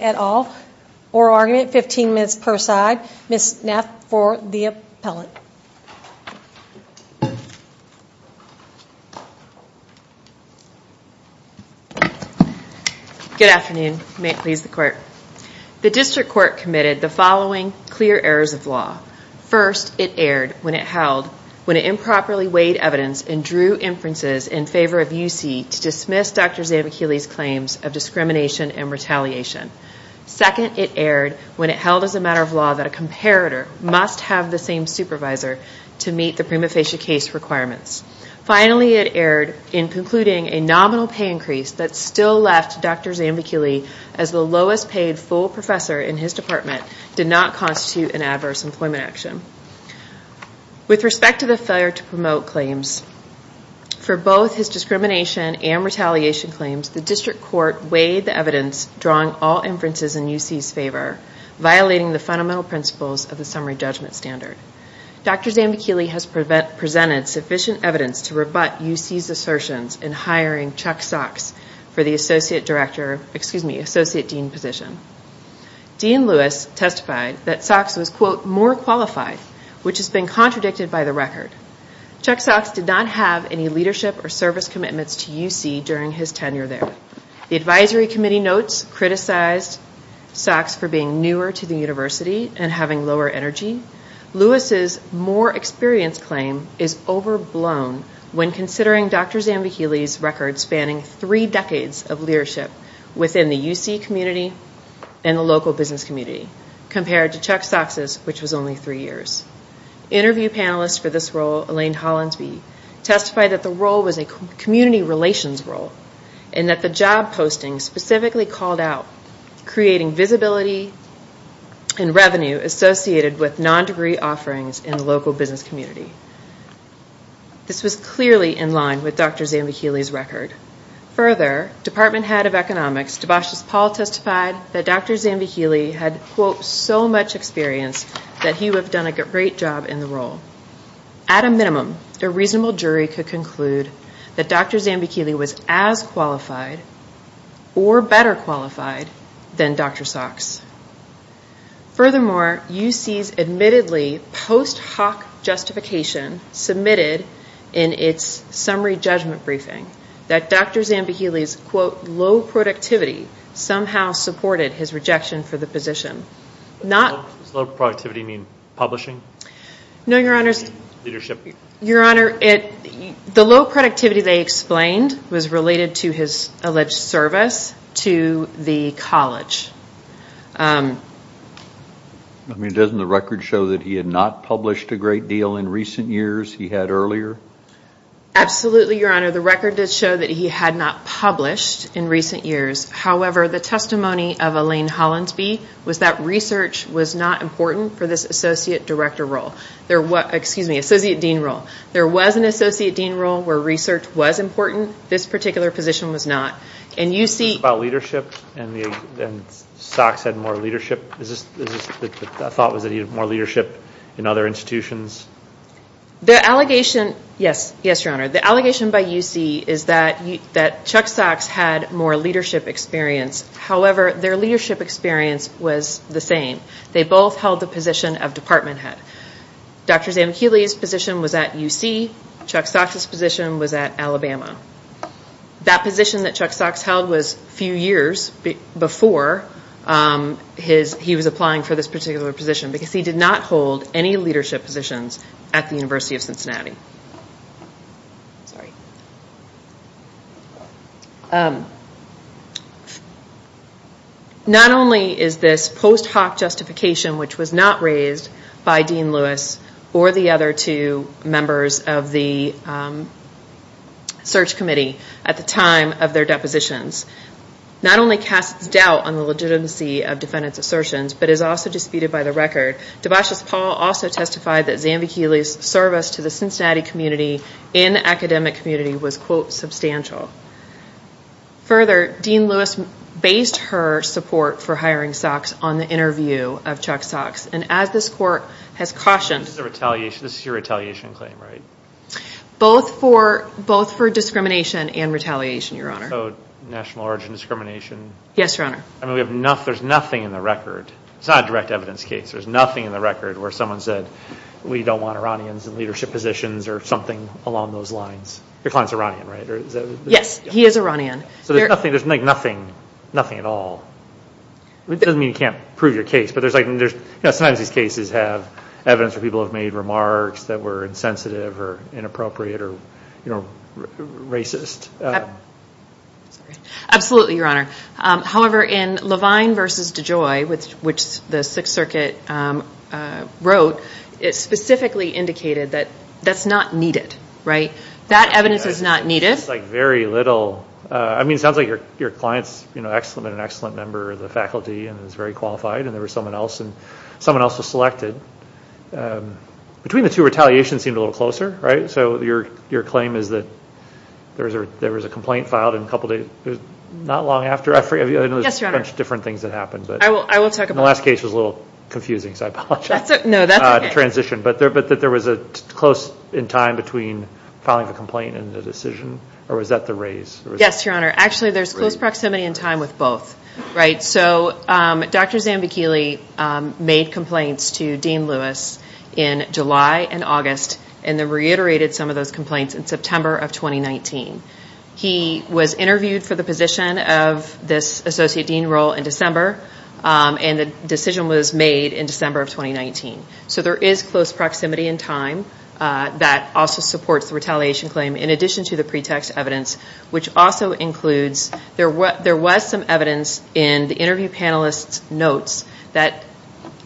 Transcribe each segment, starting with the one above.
at all. Oral argument, 15 minutes per side. Ms. Neff for the appellate. Good afternoon. May it please the court. The district court committed the following clear errors of law. First, it erred when it held, when it improperly weighed evidence and drew inferences in favor of UC to dismiss Dr. Zandvakili's claims of discrimination and retaliation. Second, it erred when it held as a matter of law that a comparator must have the same supervisor to meet the prima facie case requirements. Finally, it erred in concluding a nominal pay increase that still left Dr. Zandvakili as the lowest paid full professor in his department did not constitute an adverse employment action. With respect to the failure to promote claims, for both his discrimination and retaliation claims, the district court weighed the evidence drawing all inferences in UC's favor, violating the fundamental principles of the summary judgment standard. Dr. Zandvakili has presented sufficient evidence to rebut UC's assertions in hiring Chuck Socks for the associate dean position. Dean Lewis testified that Socks was, quote, more qualified, which has been contradicted by the record. Chuck Socks did not have any leadership or service commitments to UC during his tenure there. The advisory committee notes criticized Socks for being newer to the university and having lower energy. Lewis's more experienced claim is overblown when considering Dr. Zandvakili's record spanning three decades of leadership within the UC community and the local business community compared to Chuck Socks's, which was only three years. Interview panelists for this role, Elaine Hollansby, testified that the role was a community relations role and that the job posting specifically called out creating visibility and revenue associated with non-degree offerings in the local business community. This was clearly in line with Dr. Zandvakili's record. Further, department head of economics, Debasis Paul testified that Dr. Zandvakili had, quote, so much experience that he would have done a great job in the role. At a minimum, a reasonable jury could conclude that Dr. Zandvakili was as qualified or better qualified than Dr. Socks. Furthermore, UC's admittedly post hoc justification submitted in its summary judgment briefing that Dr. Zandvakili's, quote, low productivity somehow supported his rejection for the position. Does low productivity mean publishing? No, your honor, the low productivity they related to his alleged service to the college. I mean, doesn't the record show that he had not published a great deal in recent years he had earlier? Absolutely, your honor. The record did show that he had not published in recent years. However, the testimony of Elaine Hollansby was that research was not important for this associate director role. Excuse me, associate dean role. There was an associate dean role where research was important. This particular position was not. About leadership and Socks had more leadership? Is this the thought that he had more leadership in other institutions? Yes, your honor. The allegation by UC is that Chuck Socks had more leadership experience. However, their leadership experience was the same. They both held the position of department head. Dr. Zandvakili's position was at UC. Chuck Socks' position was at Alabama. That position that Chuck Socks held was a few years before he was applying for this particular position because he did not hold any leadership positions at the University of Cincinnati. Sorry. Not only is this post hoc justification which was not raised by Dean Lewis or the other two members of the search committee at the time of their depositions. Not only casts doubt on the legitimacy of defendants' assertions, but is also disputed by the record. Debauchess Paul also testified that Zandvakili's service to the Cincinnati community and academic community was quote substantial. Further, Dean Lewis based her support for hiring Socks on the interview of Chuck Socks. As this court has cautioned. This is a retaliation. This is your retaliation claim, right? Both for discrimination and retaliation, your honor. National origin discrimination. Yes, your honor. There's nothing in the record. It's not a direct evidence case. There's nothing in the record where someone said we don't want Iranians in leadership positions or something along those lines. Your client's Iranian, right? Yes, he is Iranian. There's nothing at all. It doesn't mean you can't prove your case. Sometimes these cases have evidence where people have made remarks that were insensitive or inappropriate or racist. Absolutely, your honor. However, in Levine versus DeJoy, which the Sixth Circuit wrote, it specifically indicated that that's not needed, right? That evidence is not needed. It's like very little. I mean, it sounds like your client's an excellent member of the faculty and is very qualified and there was someone else selected. Between the two, retaliation seemed a little closer, right? So your claim is that there was a complaint filed not long after. I know there's a bunch of different things that happened. I will talk about that. The last case was a little confusing, so I apologize. No, that's okay. The transition, but that there was close in time between filing the complaint and the decision or was that the raise? Yes, your honor. Actually, there's close proximity in time with both, right? So Dr. Zambichile made complaints to Dean Lewis in July and August and then reiterated some of those complaints in September of 2019. He was interviewed for the position of this associate dean role in December and the decision was made in December of 2019. So there is close proximity in time that also supports the retaliation claim in addition to the pretext evidence, which also includes there was some evidence in the interview panelist's notes that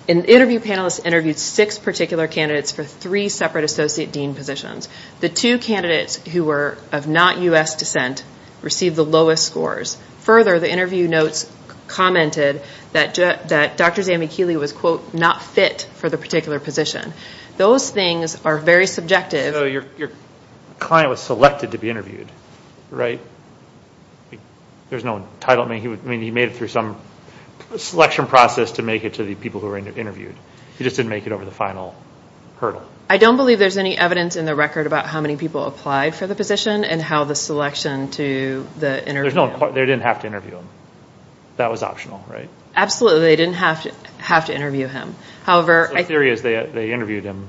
an interview panelist interviewed six particular candidates for three separate associate dean positions. The two candidates who were of not U.S. descent received the lowest scores. Further, the interview notes commented that Dr. Zambichile was, quote, not fit for the particular position. Those things are very subjective. So your client was selected to be interviewed, right? There's no title. I mean, he made it through some selection process to make it to the people who were interviewed. He just didn't make it over the final hurdle. I don't believe there's any evidence in the record about how many people applied for the position and how the selection to the interview. They didn't have to interview him. That was optional, right? Absolutely, they didn't have to interview him. The theory is they interviewed him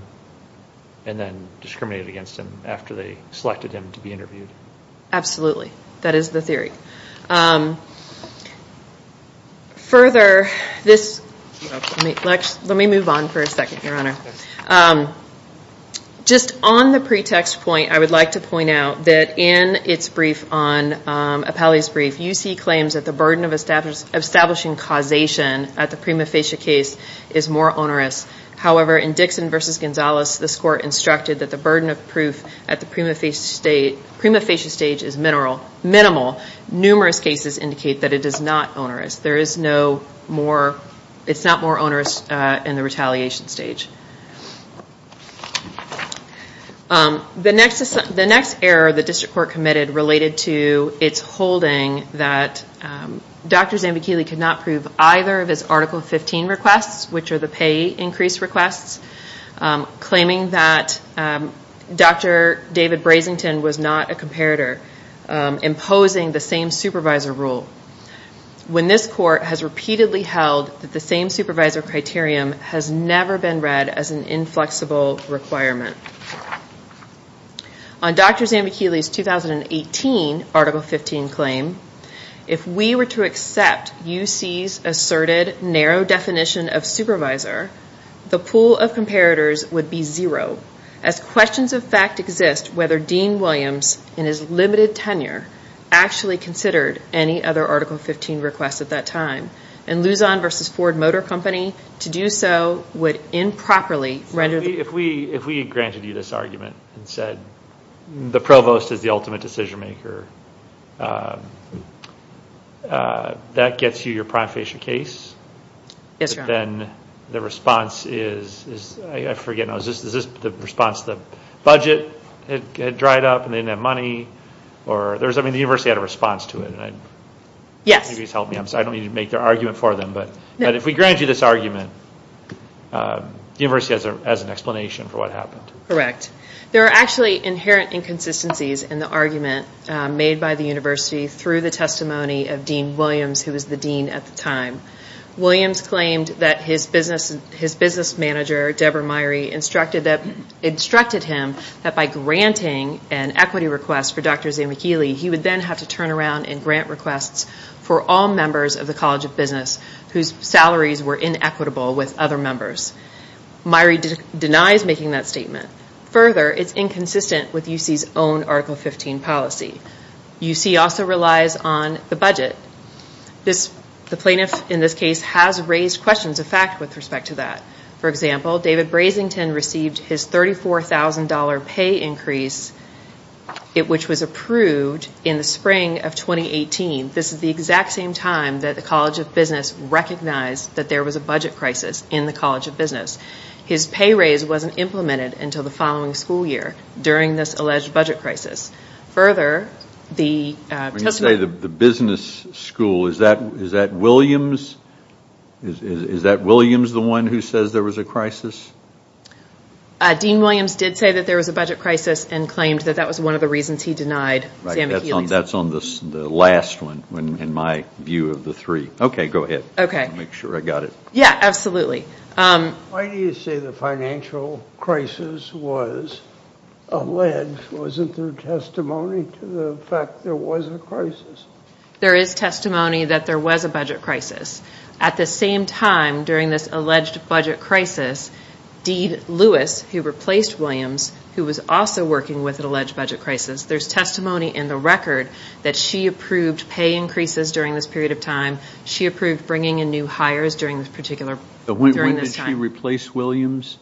and then discriminated against him after they selected him to be interviewed. Absolutely, that is the theory. Further, let me move on for a second, Your Honor. Just on the pretext point, I would like to point out that in its brief on Appellee's Brief, you see claims that the burden of establishing causation at the prima facie case is more onerous. However, in Dixon v. Gonzalez, this court instructed that the burden of proof at the prima facie stage is minimal. Numerous cases indicate that it is not onerous. It's not more onerous in the retaliation stage. The next error the district court committed related to its holding that Dr. Zambichile could not prove either of his Article 15 requests, which are the pay increase requests, claiming that Dr. David Brasington was not a comparator, imposing the same supervisor rule when this court has repeatedly held that the same supervisor criterion has never been read as an inflexible requirement. On Dr. Zambichile's 2018 Article 15 claim, if we were to accept UC's asserted narrow definition of supervisor, the pool of comparators would be zero, as questions of fact exist whether Dean Williams, in his limited tenure, actually considered any other Article 15 requests at that time. And Luzon v. Ford Motor Company, to do so would improperly render the... If we granted you this argument and said the provost is the ultimate decision maker, that gets you your prima facie case, then the response is, I forget now, is this the response, the budget had dried up and they didn't have money, or, I mean, the university had a response to it. I don't need to make their argument for them, but if we grant you this argument, the university has an explanation for what happened. Correct. There are actually inherent inconsistencies in the argument made by the university through the testimony of Dean Williams, who was the dean at the time. Williams claimed that his business manager, Deborah Myrie, instructed him that by granting an equity request for Dr. Zambichile, he would then have to turn around and grant requests for all members of the College of Business whose salaries were inequitable with other members. Myrie denies making that statement. Further, it's inconsistent with UC's own Article 15 policy. UC also relies on the budget. The plaintiff in this case has raised questions of fact with respect to that. For example, David Brasington received his $34,000 pay increase, which was the reason that the College of Business recognized that there was a budget crisis in the College of Business. His pay raise wasn't implemented until the following school year during this alleged budget crisis. Further, the testimony... When you say the business school, is that Williams the one who says there was a crisis? Dean Williams did say that there was a budget crisis and claimed that that was one of the reasons he denied Zambichile's... That's on the last one, in my view of the three. Okay, go ahead, I want to make sure I got it. Yeah, absolutely. Why do you say the financial crisis was alleged? Wasn't there testimony to the fact there was a crisis? There is testimony that there was a budget crisis. At the same time, during this alleged budget crisis, Dean Lewis, who replaced Williams, who was also working with an alleged budget crisis, there's testimony in the record that she approved pay increases during this period of time. She approved bringing in new hires during this particular... When did she replace Williams?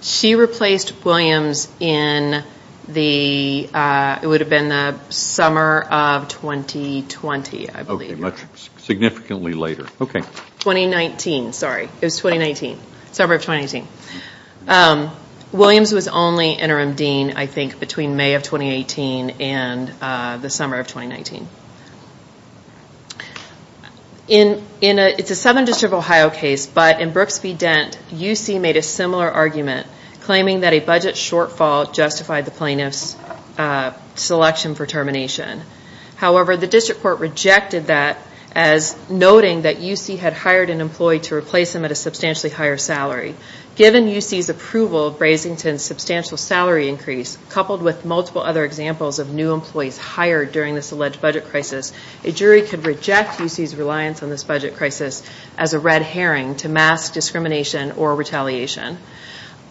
She replaced Williams in the... It would have been the summer of 2020, I believe. Okay, much significantly later. 2019, sorry. It was 2019. Summer of 2019. Williams was only interim dean, I think, between May of 2018 and the summer of 2019. It's a Southern District of Ohio case, but in Brooks v. Dent, UC made a similar argument claiming that a budget shortfall justified the plaintiff's selection for termination. However, the district court rejected that as noting that UC had hired an employee to replace him at a substantially higher salary. Given UC's approval of Brasington's substantial salary increase, coupled with multiple other examples of new employees hired during this alleged budget crisis, a jury could reject UC's reliance on this budget crisis as a red herring to mask discrimination or retaliation.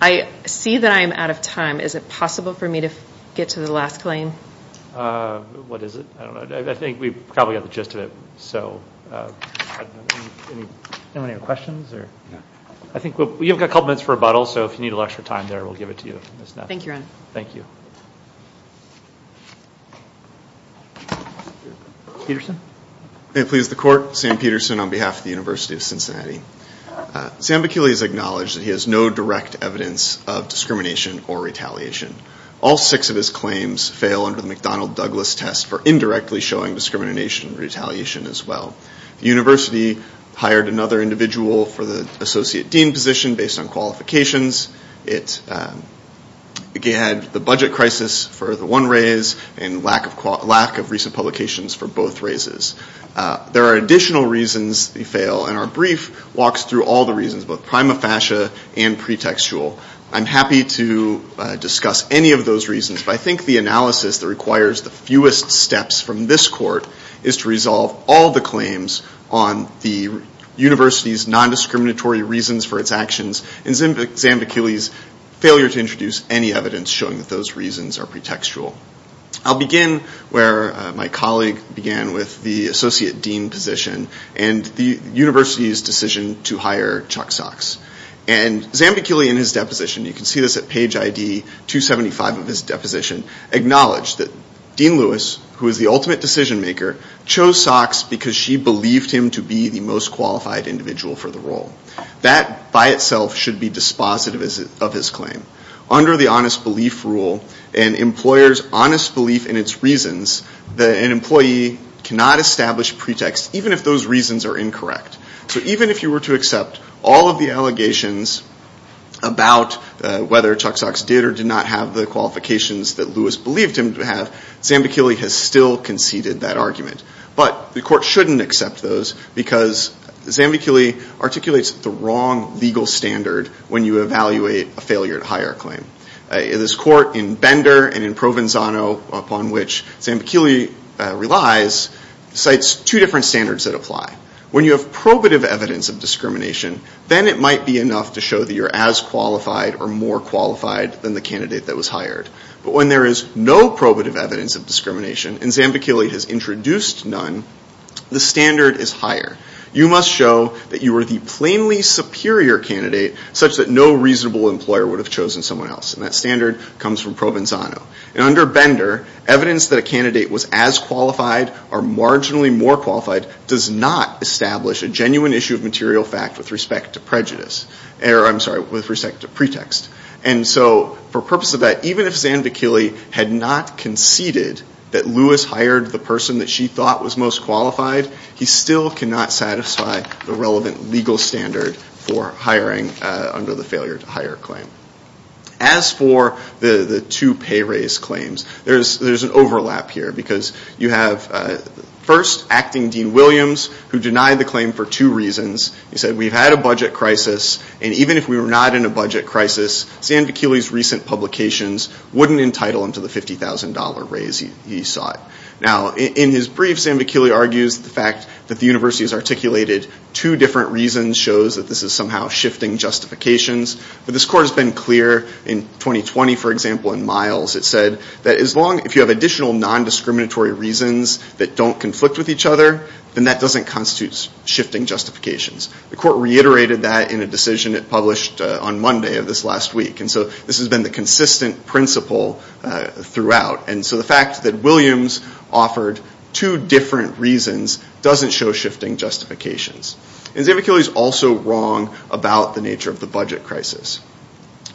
I see that I am out of time. Is it possible for me to get to the last claim? What is it? I don't know. I think we probably got the gist of it. Anyone have any questions? I think we've got a couple minutes for rebuttal, so if you need a little extra time there, we'll give it to you. Thank you, Your Honor. Peterson? May it please the Court, Sam Peterson on behalf of the University of Cincinnati. Sam McKinley has acknowledged that he has no direct evidence of discrimination or retaliation. All six of his claims fail under the McDonnell-Douglas test for indirectly showing discrimination or retaliation as well. The university hired another individual for the associate dean position based on qualifications. It had the budget crisis for the one raise and lack of recent publications for both raises. There are additional reasons they fail, and our brief walks through all the reasons, both prima facie and pretextual. I'm happy to discuss any of those reasons, but I think the analysis that requires the fewest steps from this court is to resolve all the claims on the university's non-discriminatory reasons for its actions and Sam McKinley's failure to introduce any evidence showing that those reasons are pretextual. I'll begin where my colleague began with the associate dean position and the university's decision to hire Chuck Sox. Sam McKinley, in his deposition, you can see this at page ID 275 of his deposition, acknowledged that Dean Lewis, who is the ultimate decision maker, chose Sox because she believed him to be the most qualified individual for the role. That by itself should be dispositive of his claim. Under the honest belief rule, an employer's honest belief in its reasons, an employee cannot establish pretext even if those reasons are incorrect. So even if you were to accept all of the allegations about whether Chuck Sox did or did not have the qualifications that Lewis believed him to have, Sam McKinley has still conceded that argument. But the court shouldn't accept those because Sam McKinley articulates the wrong legal standard when you evaluate a failure to hire claim. This court in Bender and in Provenzano, upon which Sam McKinley relies, cites two different standards that apply. When you have probative evidence of discrimination, then it might be enough to show that you're as qualified or more qualified than the candidate that was hired. But when there is no probative evidence of discrimination, and Sam McKinley has introduced none, the standard is higher. You must show that you are the plainly superior candidate such that no reasonable employer would have chosen someone else. And that standard comes from Provenzano. Under Bender, evidence that a candidate was as qualified or marginally more qualified does not establish a genuine issue of material fact with respect to pretext. And so, for purpose of that, even if Sam McKinley had not conceded that Lewis hired the person that she thought was most qualified, he still cannot satisfy the relevant legal standard for hiring under the failure to hire claim. As for the two pay raise claims, there's an overlap here because you have, first, acting Dean Williams, who denied the claim for two reasons. He said, we've had a budget crisis, and even if we were not in a budget crisis, Sam McKinley's recent publications wouldn't entitle him to the $50,000 raise he sought. Now, in his brief, Sam McKinley argues the fact that the university has articulated two different reasons shows that this is somehow shifting justifications. But this court has been clear in 2020, for example, in Miles. It said that as long as you have additional non-discriminatory reasons that don't conflict with each other, then that doesn't constitute shifting justifications. The court reiterated that in a decision it published on Monday of this last week. And so, this has been the consistent principle throughout. And so, the fact that Williams offered two different reasons doesn't show shifting justifications. And Sam McKinley is also wrong about the nature of the budget crisis.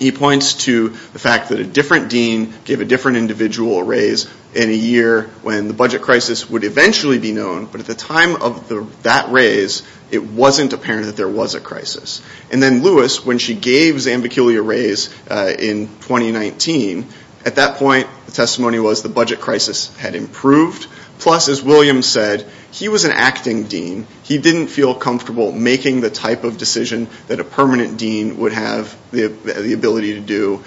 He points to the fact that a different dean gave a different individual a raise in a year when the budget crisis would eventually be known. But at the time of that raise, it wasn't apparent that there was a crisis. And then Lewis, when she gave Sam McKinley a raise in 2019, at that point, the testimony was the budget crisis had improved. Plus, as Williams said, he was an acting dean. He didn't feel comfortable making the type of decision that a permanent dean would have the ability to do.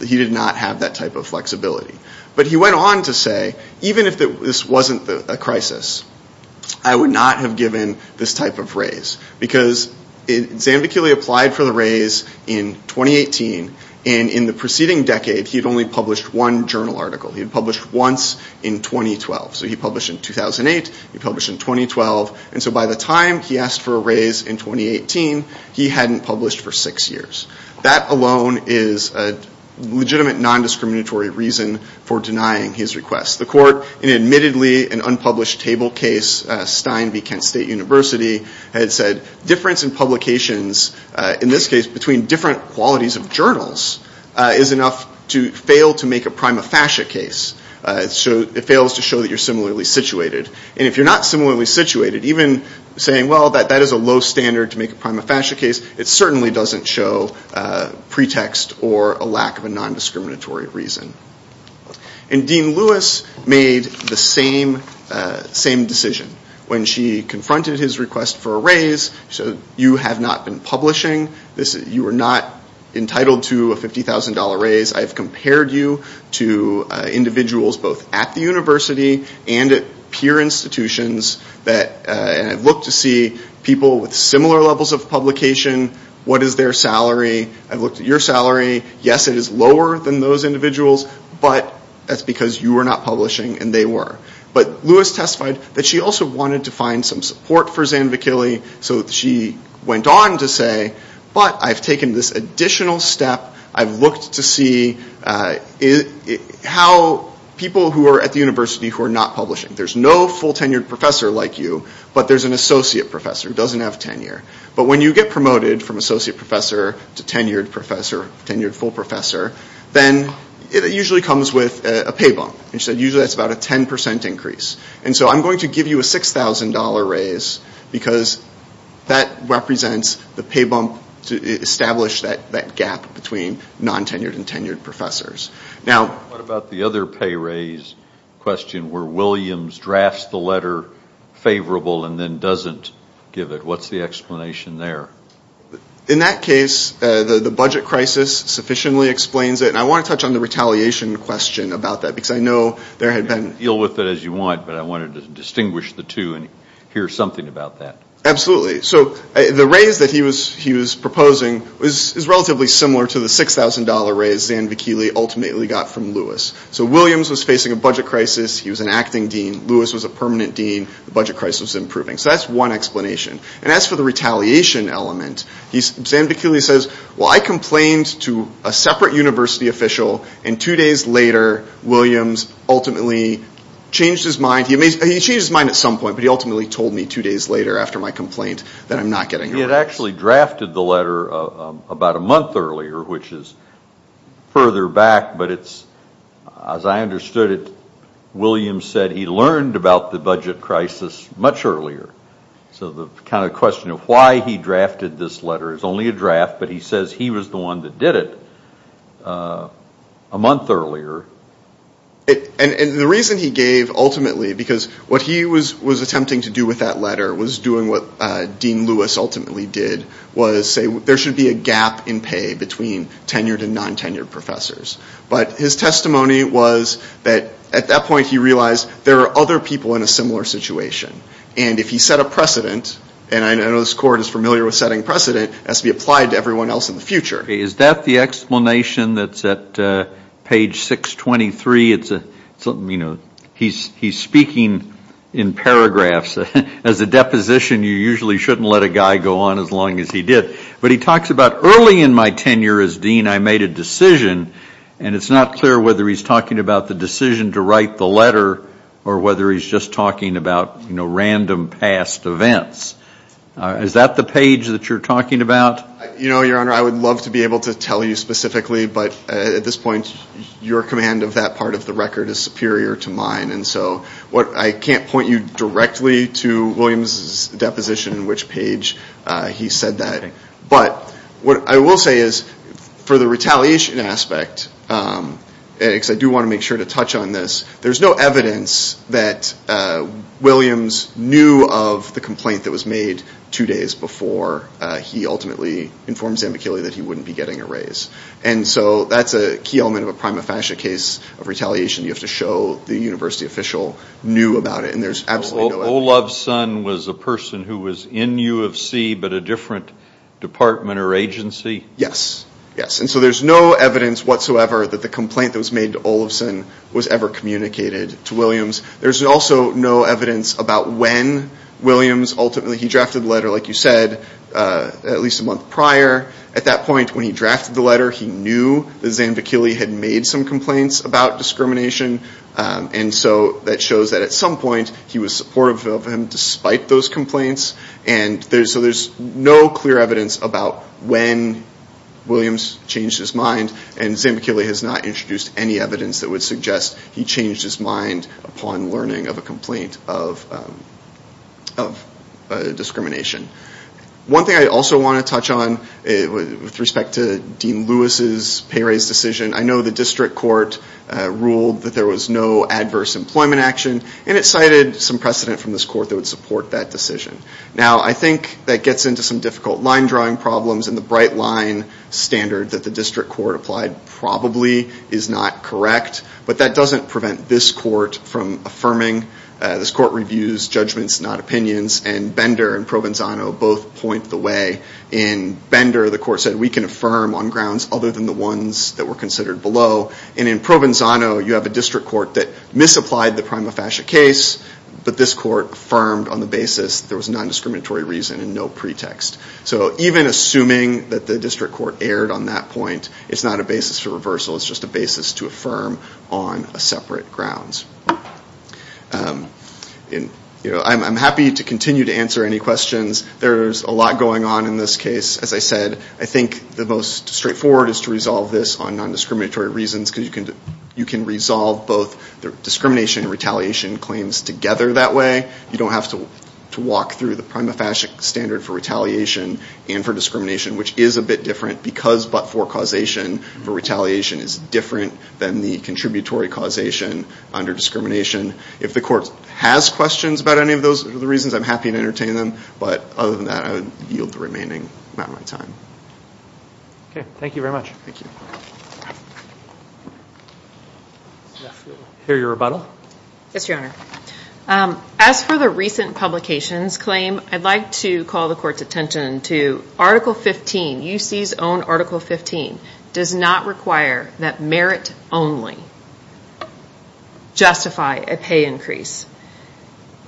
He did not have that type of flexibility. But he went on to say, even if this wasn't a crisis, I would not have given this type of raise. Because Sam McKinley applied for the raise in 2018. And in the preceding decade, he had only published one journal article. He had published once in 2012. So he published in 2008. He published in 2012. And so, by the time he asked for a raise in 2018, he hadn't published for six years. That alone is a legitimate non-discriminatory reason for denying his request. The court, in admittedly an unpublished table case, Stein v. Kent State University, had said, difference in publications, in this case, between different qualities of journals, is enough to fail to make a prima facie case. It fails to show that you're similarly situated. And if you're not similarly situated, even saying, well, that is a low standard to make a prima facie case, it certainly doesn't show pretext or a lack of a non-discriminatory reason. And Dean Lewis made the same decision. When she confronted his request for a raise, she said, you have not been publishing. You are not entitled to a $50,000 raise. I have compared you to individuals both at the university and at peer institutions, and I've looked to see people with similar levels of publication. What is their salary? I've looked at your salary. Yes, it is lower than those individuals, but that's because you were not publishing and they were. But Lewis testified that she also wanted to find some support for Zanvakili, so she went on to say, but I've taken this additional step. I've looked to see how people who are at the university who are not publishing. There's no full tenured professor like you, but there's an associate professor who doesn't have tenure. But when you get promoted from associate professor to tenured professor, tenured full professor, then it usually comes with a pay bump. And she said usually that's about a 10% increase. And so I'm going to give you a $6,000 raise because that represents the pay bump to establish that gap between non-tenured and tenured professors. Now what about the other pay raise question where Williams drafts the letter favorable and then doesn't give it? What's the explanation there? In that case, the budget crisis sufficiently explains it. And I want to touch on the retaliation question about that because I know there had been... You can deal with it as you want, but I wanted to distinguish the two and hear something about that. Absolutely. So the raise that he was proposing is relatively similar to the $6,000 raise Zan Vickili ultimately got from Lewis. So Williams was facing a budget crisis. He was an acting dean. Lewis was a permanent dean. The budget crisis was improving. So that's one explanation. And as for the retaliation element, Zan Vickili says, well, I complained to a separate university official and two days later, Williams ultimately changed his mind. He changed his mind at some point, but he ultimately told me two days later after my complaint that I'm not getting a raise. He had actually drafted the letter about a month earlier, which is further back, but it's, as I understood it, Williams said he learned about the budget crisis much earlier. So the kind of question of why he drafted this letter is only a draft, but he says he was the one that did it a month earlier. And the reason he gave ultimately, because what he was attempting to do with that letter was doing what Dean Lewis ultimately did, was say there should be a gap in pay between tenured and non-tenured professors. But his testimony was that at that point he realized there are other people in a similar situation. And if he set a precedent, and I know this court is familiar with setting precedent, it has to be applied to everyone else in the Is that the explanation that's at page 623? He's speaking in paragraphs. As a deposition, you usually shouldn't let a guy go on as long as he did. But he talks about early in my tenure as dean I made a decision, and it's not clear whether he's talking about the decision to write the letter or whether he's just talking about random past events. Is that the page that you're talking about? You know, Your Honor, I would love to be able to tell you specifically, but at this point your command of that part of the record is superior to mine. And so I can't point you directly to Williams' deposition, which page he said that. But what I will say is for the retaliation aspect, because I do want to make sure to touch on this, there's no evidence that Williams knew of the complaint that was made two days before he ultimately informed Zambichilli that he wouldn't be getting a raise. And so that's a key element of a prima facie case of retaliation. You have to show the university official knew about it, and there's absolutely no evidence. Olovson was a person who was in U of C, but a different department or agency? Yes. Yes. And so there's no evidence whatsoever that the complaint that was made to Olovson was ever communicated to Williams. There's also no evidence about when Williams ultimately drafted the letter, like you said, at least a month prior. At that point when he drafted the letter, he knew that Zambichilli had made some complaints about discrimination. And so that shows that at some point he was supportive of him despite those complaints. And so there's no clear evidence about when Williams changed his mind, and Zambichilli has not introduced any evidence that would suggest he changed his mind upon learning of a complaint of discrimination. One thing I also want to touch on with respect to Dean Lewis's pay raise decision, I know the district court ruled that there was no adverse employment action, and it cited some precedent from this court that would support that decision. Now I think that gets into some difficult line drawing problems, and the bright line standard that the district court applied probably is not correct, but that doesn't prevent this court from affirming. This court reviews judgments, not opinions, and Bender and Provenzano both point the way. In Bender the court said we can affirm on grounds other than the ones that were considered below, and in Provenzano you have a district court that misapplied the prima facie case, but this court affirmed on the basis there was non-discriminatory reason and no pretext. So even assuming that the district court erred on that point, it's not a basis for reversal, it's just a basis to affirm on separate grounds. I'm happy to continue to answer any questions. There's a lot going on in this case. As I said, I think the most straightforward is to resolve this on non-discriminatory reasons, because you can resolve both the discrimination and retaliation claims together that way. You don't have to walk through the prima facie standard for retaliation and for discrimination, which is a bit different because but for causation, retaliation is different than the contributory causation under discrimination. If the court has questions about any of those, the reasons, I'm happy to entertain them, but other than that I would yield the remaining amount of my time. Thank you very much. Thank you. I hear your rebuttal. Yes, Your Honor. As for the recent publications claim, I'd like to call the court's attention to Article 15, UC's own Article 15, does not require that merit only justify a pay increase.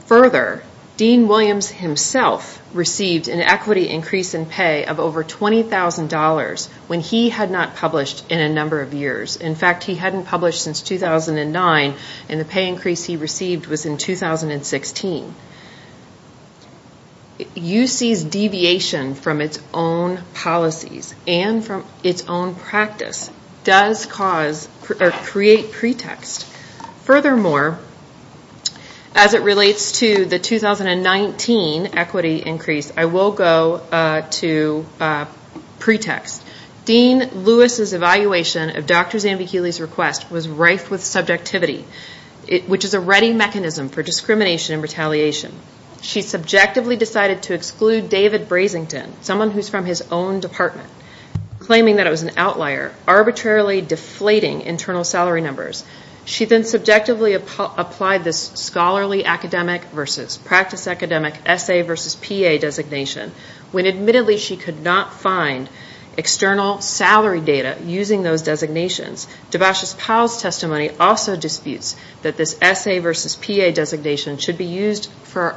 Further, Dean Williams himself received an equity increase in pay of over $20,000 when he had not published in a number of years. In fact, he hadn't published since 2009 in the pay increase he received was in 2016. UC's deviation from its own policies and from its own practice does cause or create pretext. Furthermore, as it relates to the 2019 equity increase, I will go to pretext. Dean Lewis's evaluation of Dr. Zambichilli's request was rife with subjectivity, which is a ready mechanism for discrimination and retaliation. She subjectively decided to exclude David Brasington, someone who's from his own department, claiming that it was an outlier, arbitrarily deflating internal salary numbers. She then subjectively applied this scholarly academic versus practice academic SA versus PA designation when admittedly she could not find external salary data using those designations. Debash's Powell's testimony also disputes that this SA versus PA designation should be used for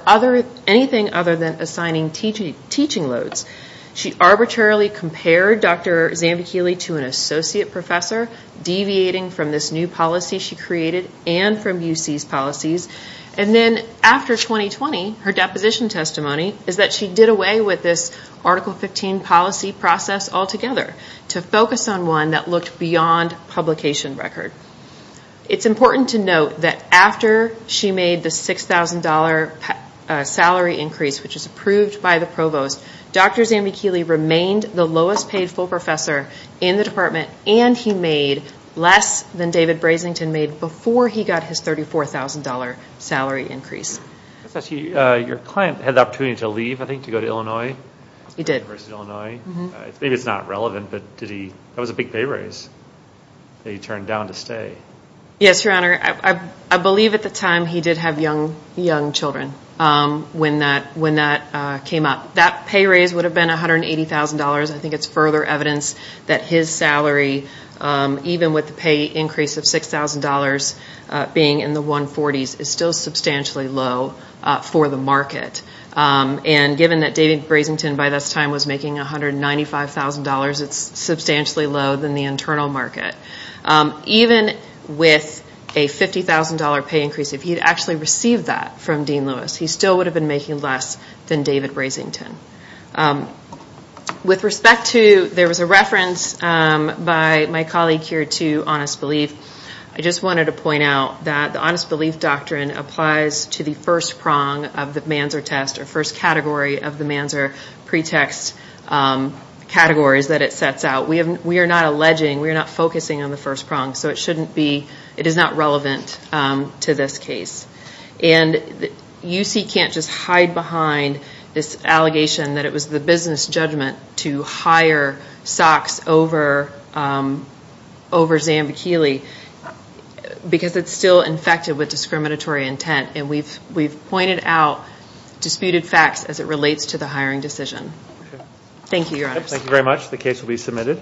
anything other than assigning teaching loads. She arbitrarily compared Dr. Zambichilli to an associate professor, deviating from this new policy she created and from UC's policies. And then after 2020, her deposition testimony is that she did away with this Article 15 policy process altogether to focus on one that looked beyond publication record. It's important to note that after she made the $6,000 salary increase, which is approved by the provost, Dr. Zambichilli remained the lowest paid full professor in the department and he made less than David Brasington made before he got his $34,000 salary increase. Your client had the opportunity to leave, I think, to go to Illinois? He did. University of Illinois. Maybe it's not relevant, but that was a big pay raise that he turned down to stay. Yes, Your Honor. I believe at the time he did have young children when that came up. That pay raise would have been $180,000. I think it's further evidence that his salary, even with the pay increase of $6,000 being in the 140s, is still substantially low for the market. And given that David Brasington by this time was making $195,000, it's substantially low than the internal market. Even with a $50,000 pay increase, if he had actually received that from Dean Lewis, he still would have been making less than David Brasington. There was a reference by my colleague here to honest belief. I just wanted to point out that the honest belief doctrine applies to the first prong of the Manzer test, or first category of the Manzer pretext categories that it sets out. We are not alleging, we are not focusing on the first prong, so it is not relevant to this case. UC can't just hide behind this allegation that it was the business judgment to hire Sox over Zambichilli because it's still infected with discriminatory intent. We've pointed out disputed facts as it relates to the hiring decision. Thank you, Your Honors. Thank you very much. The case will be submitted.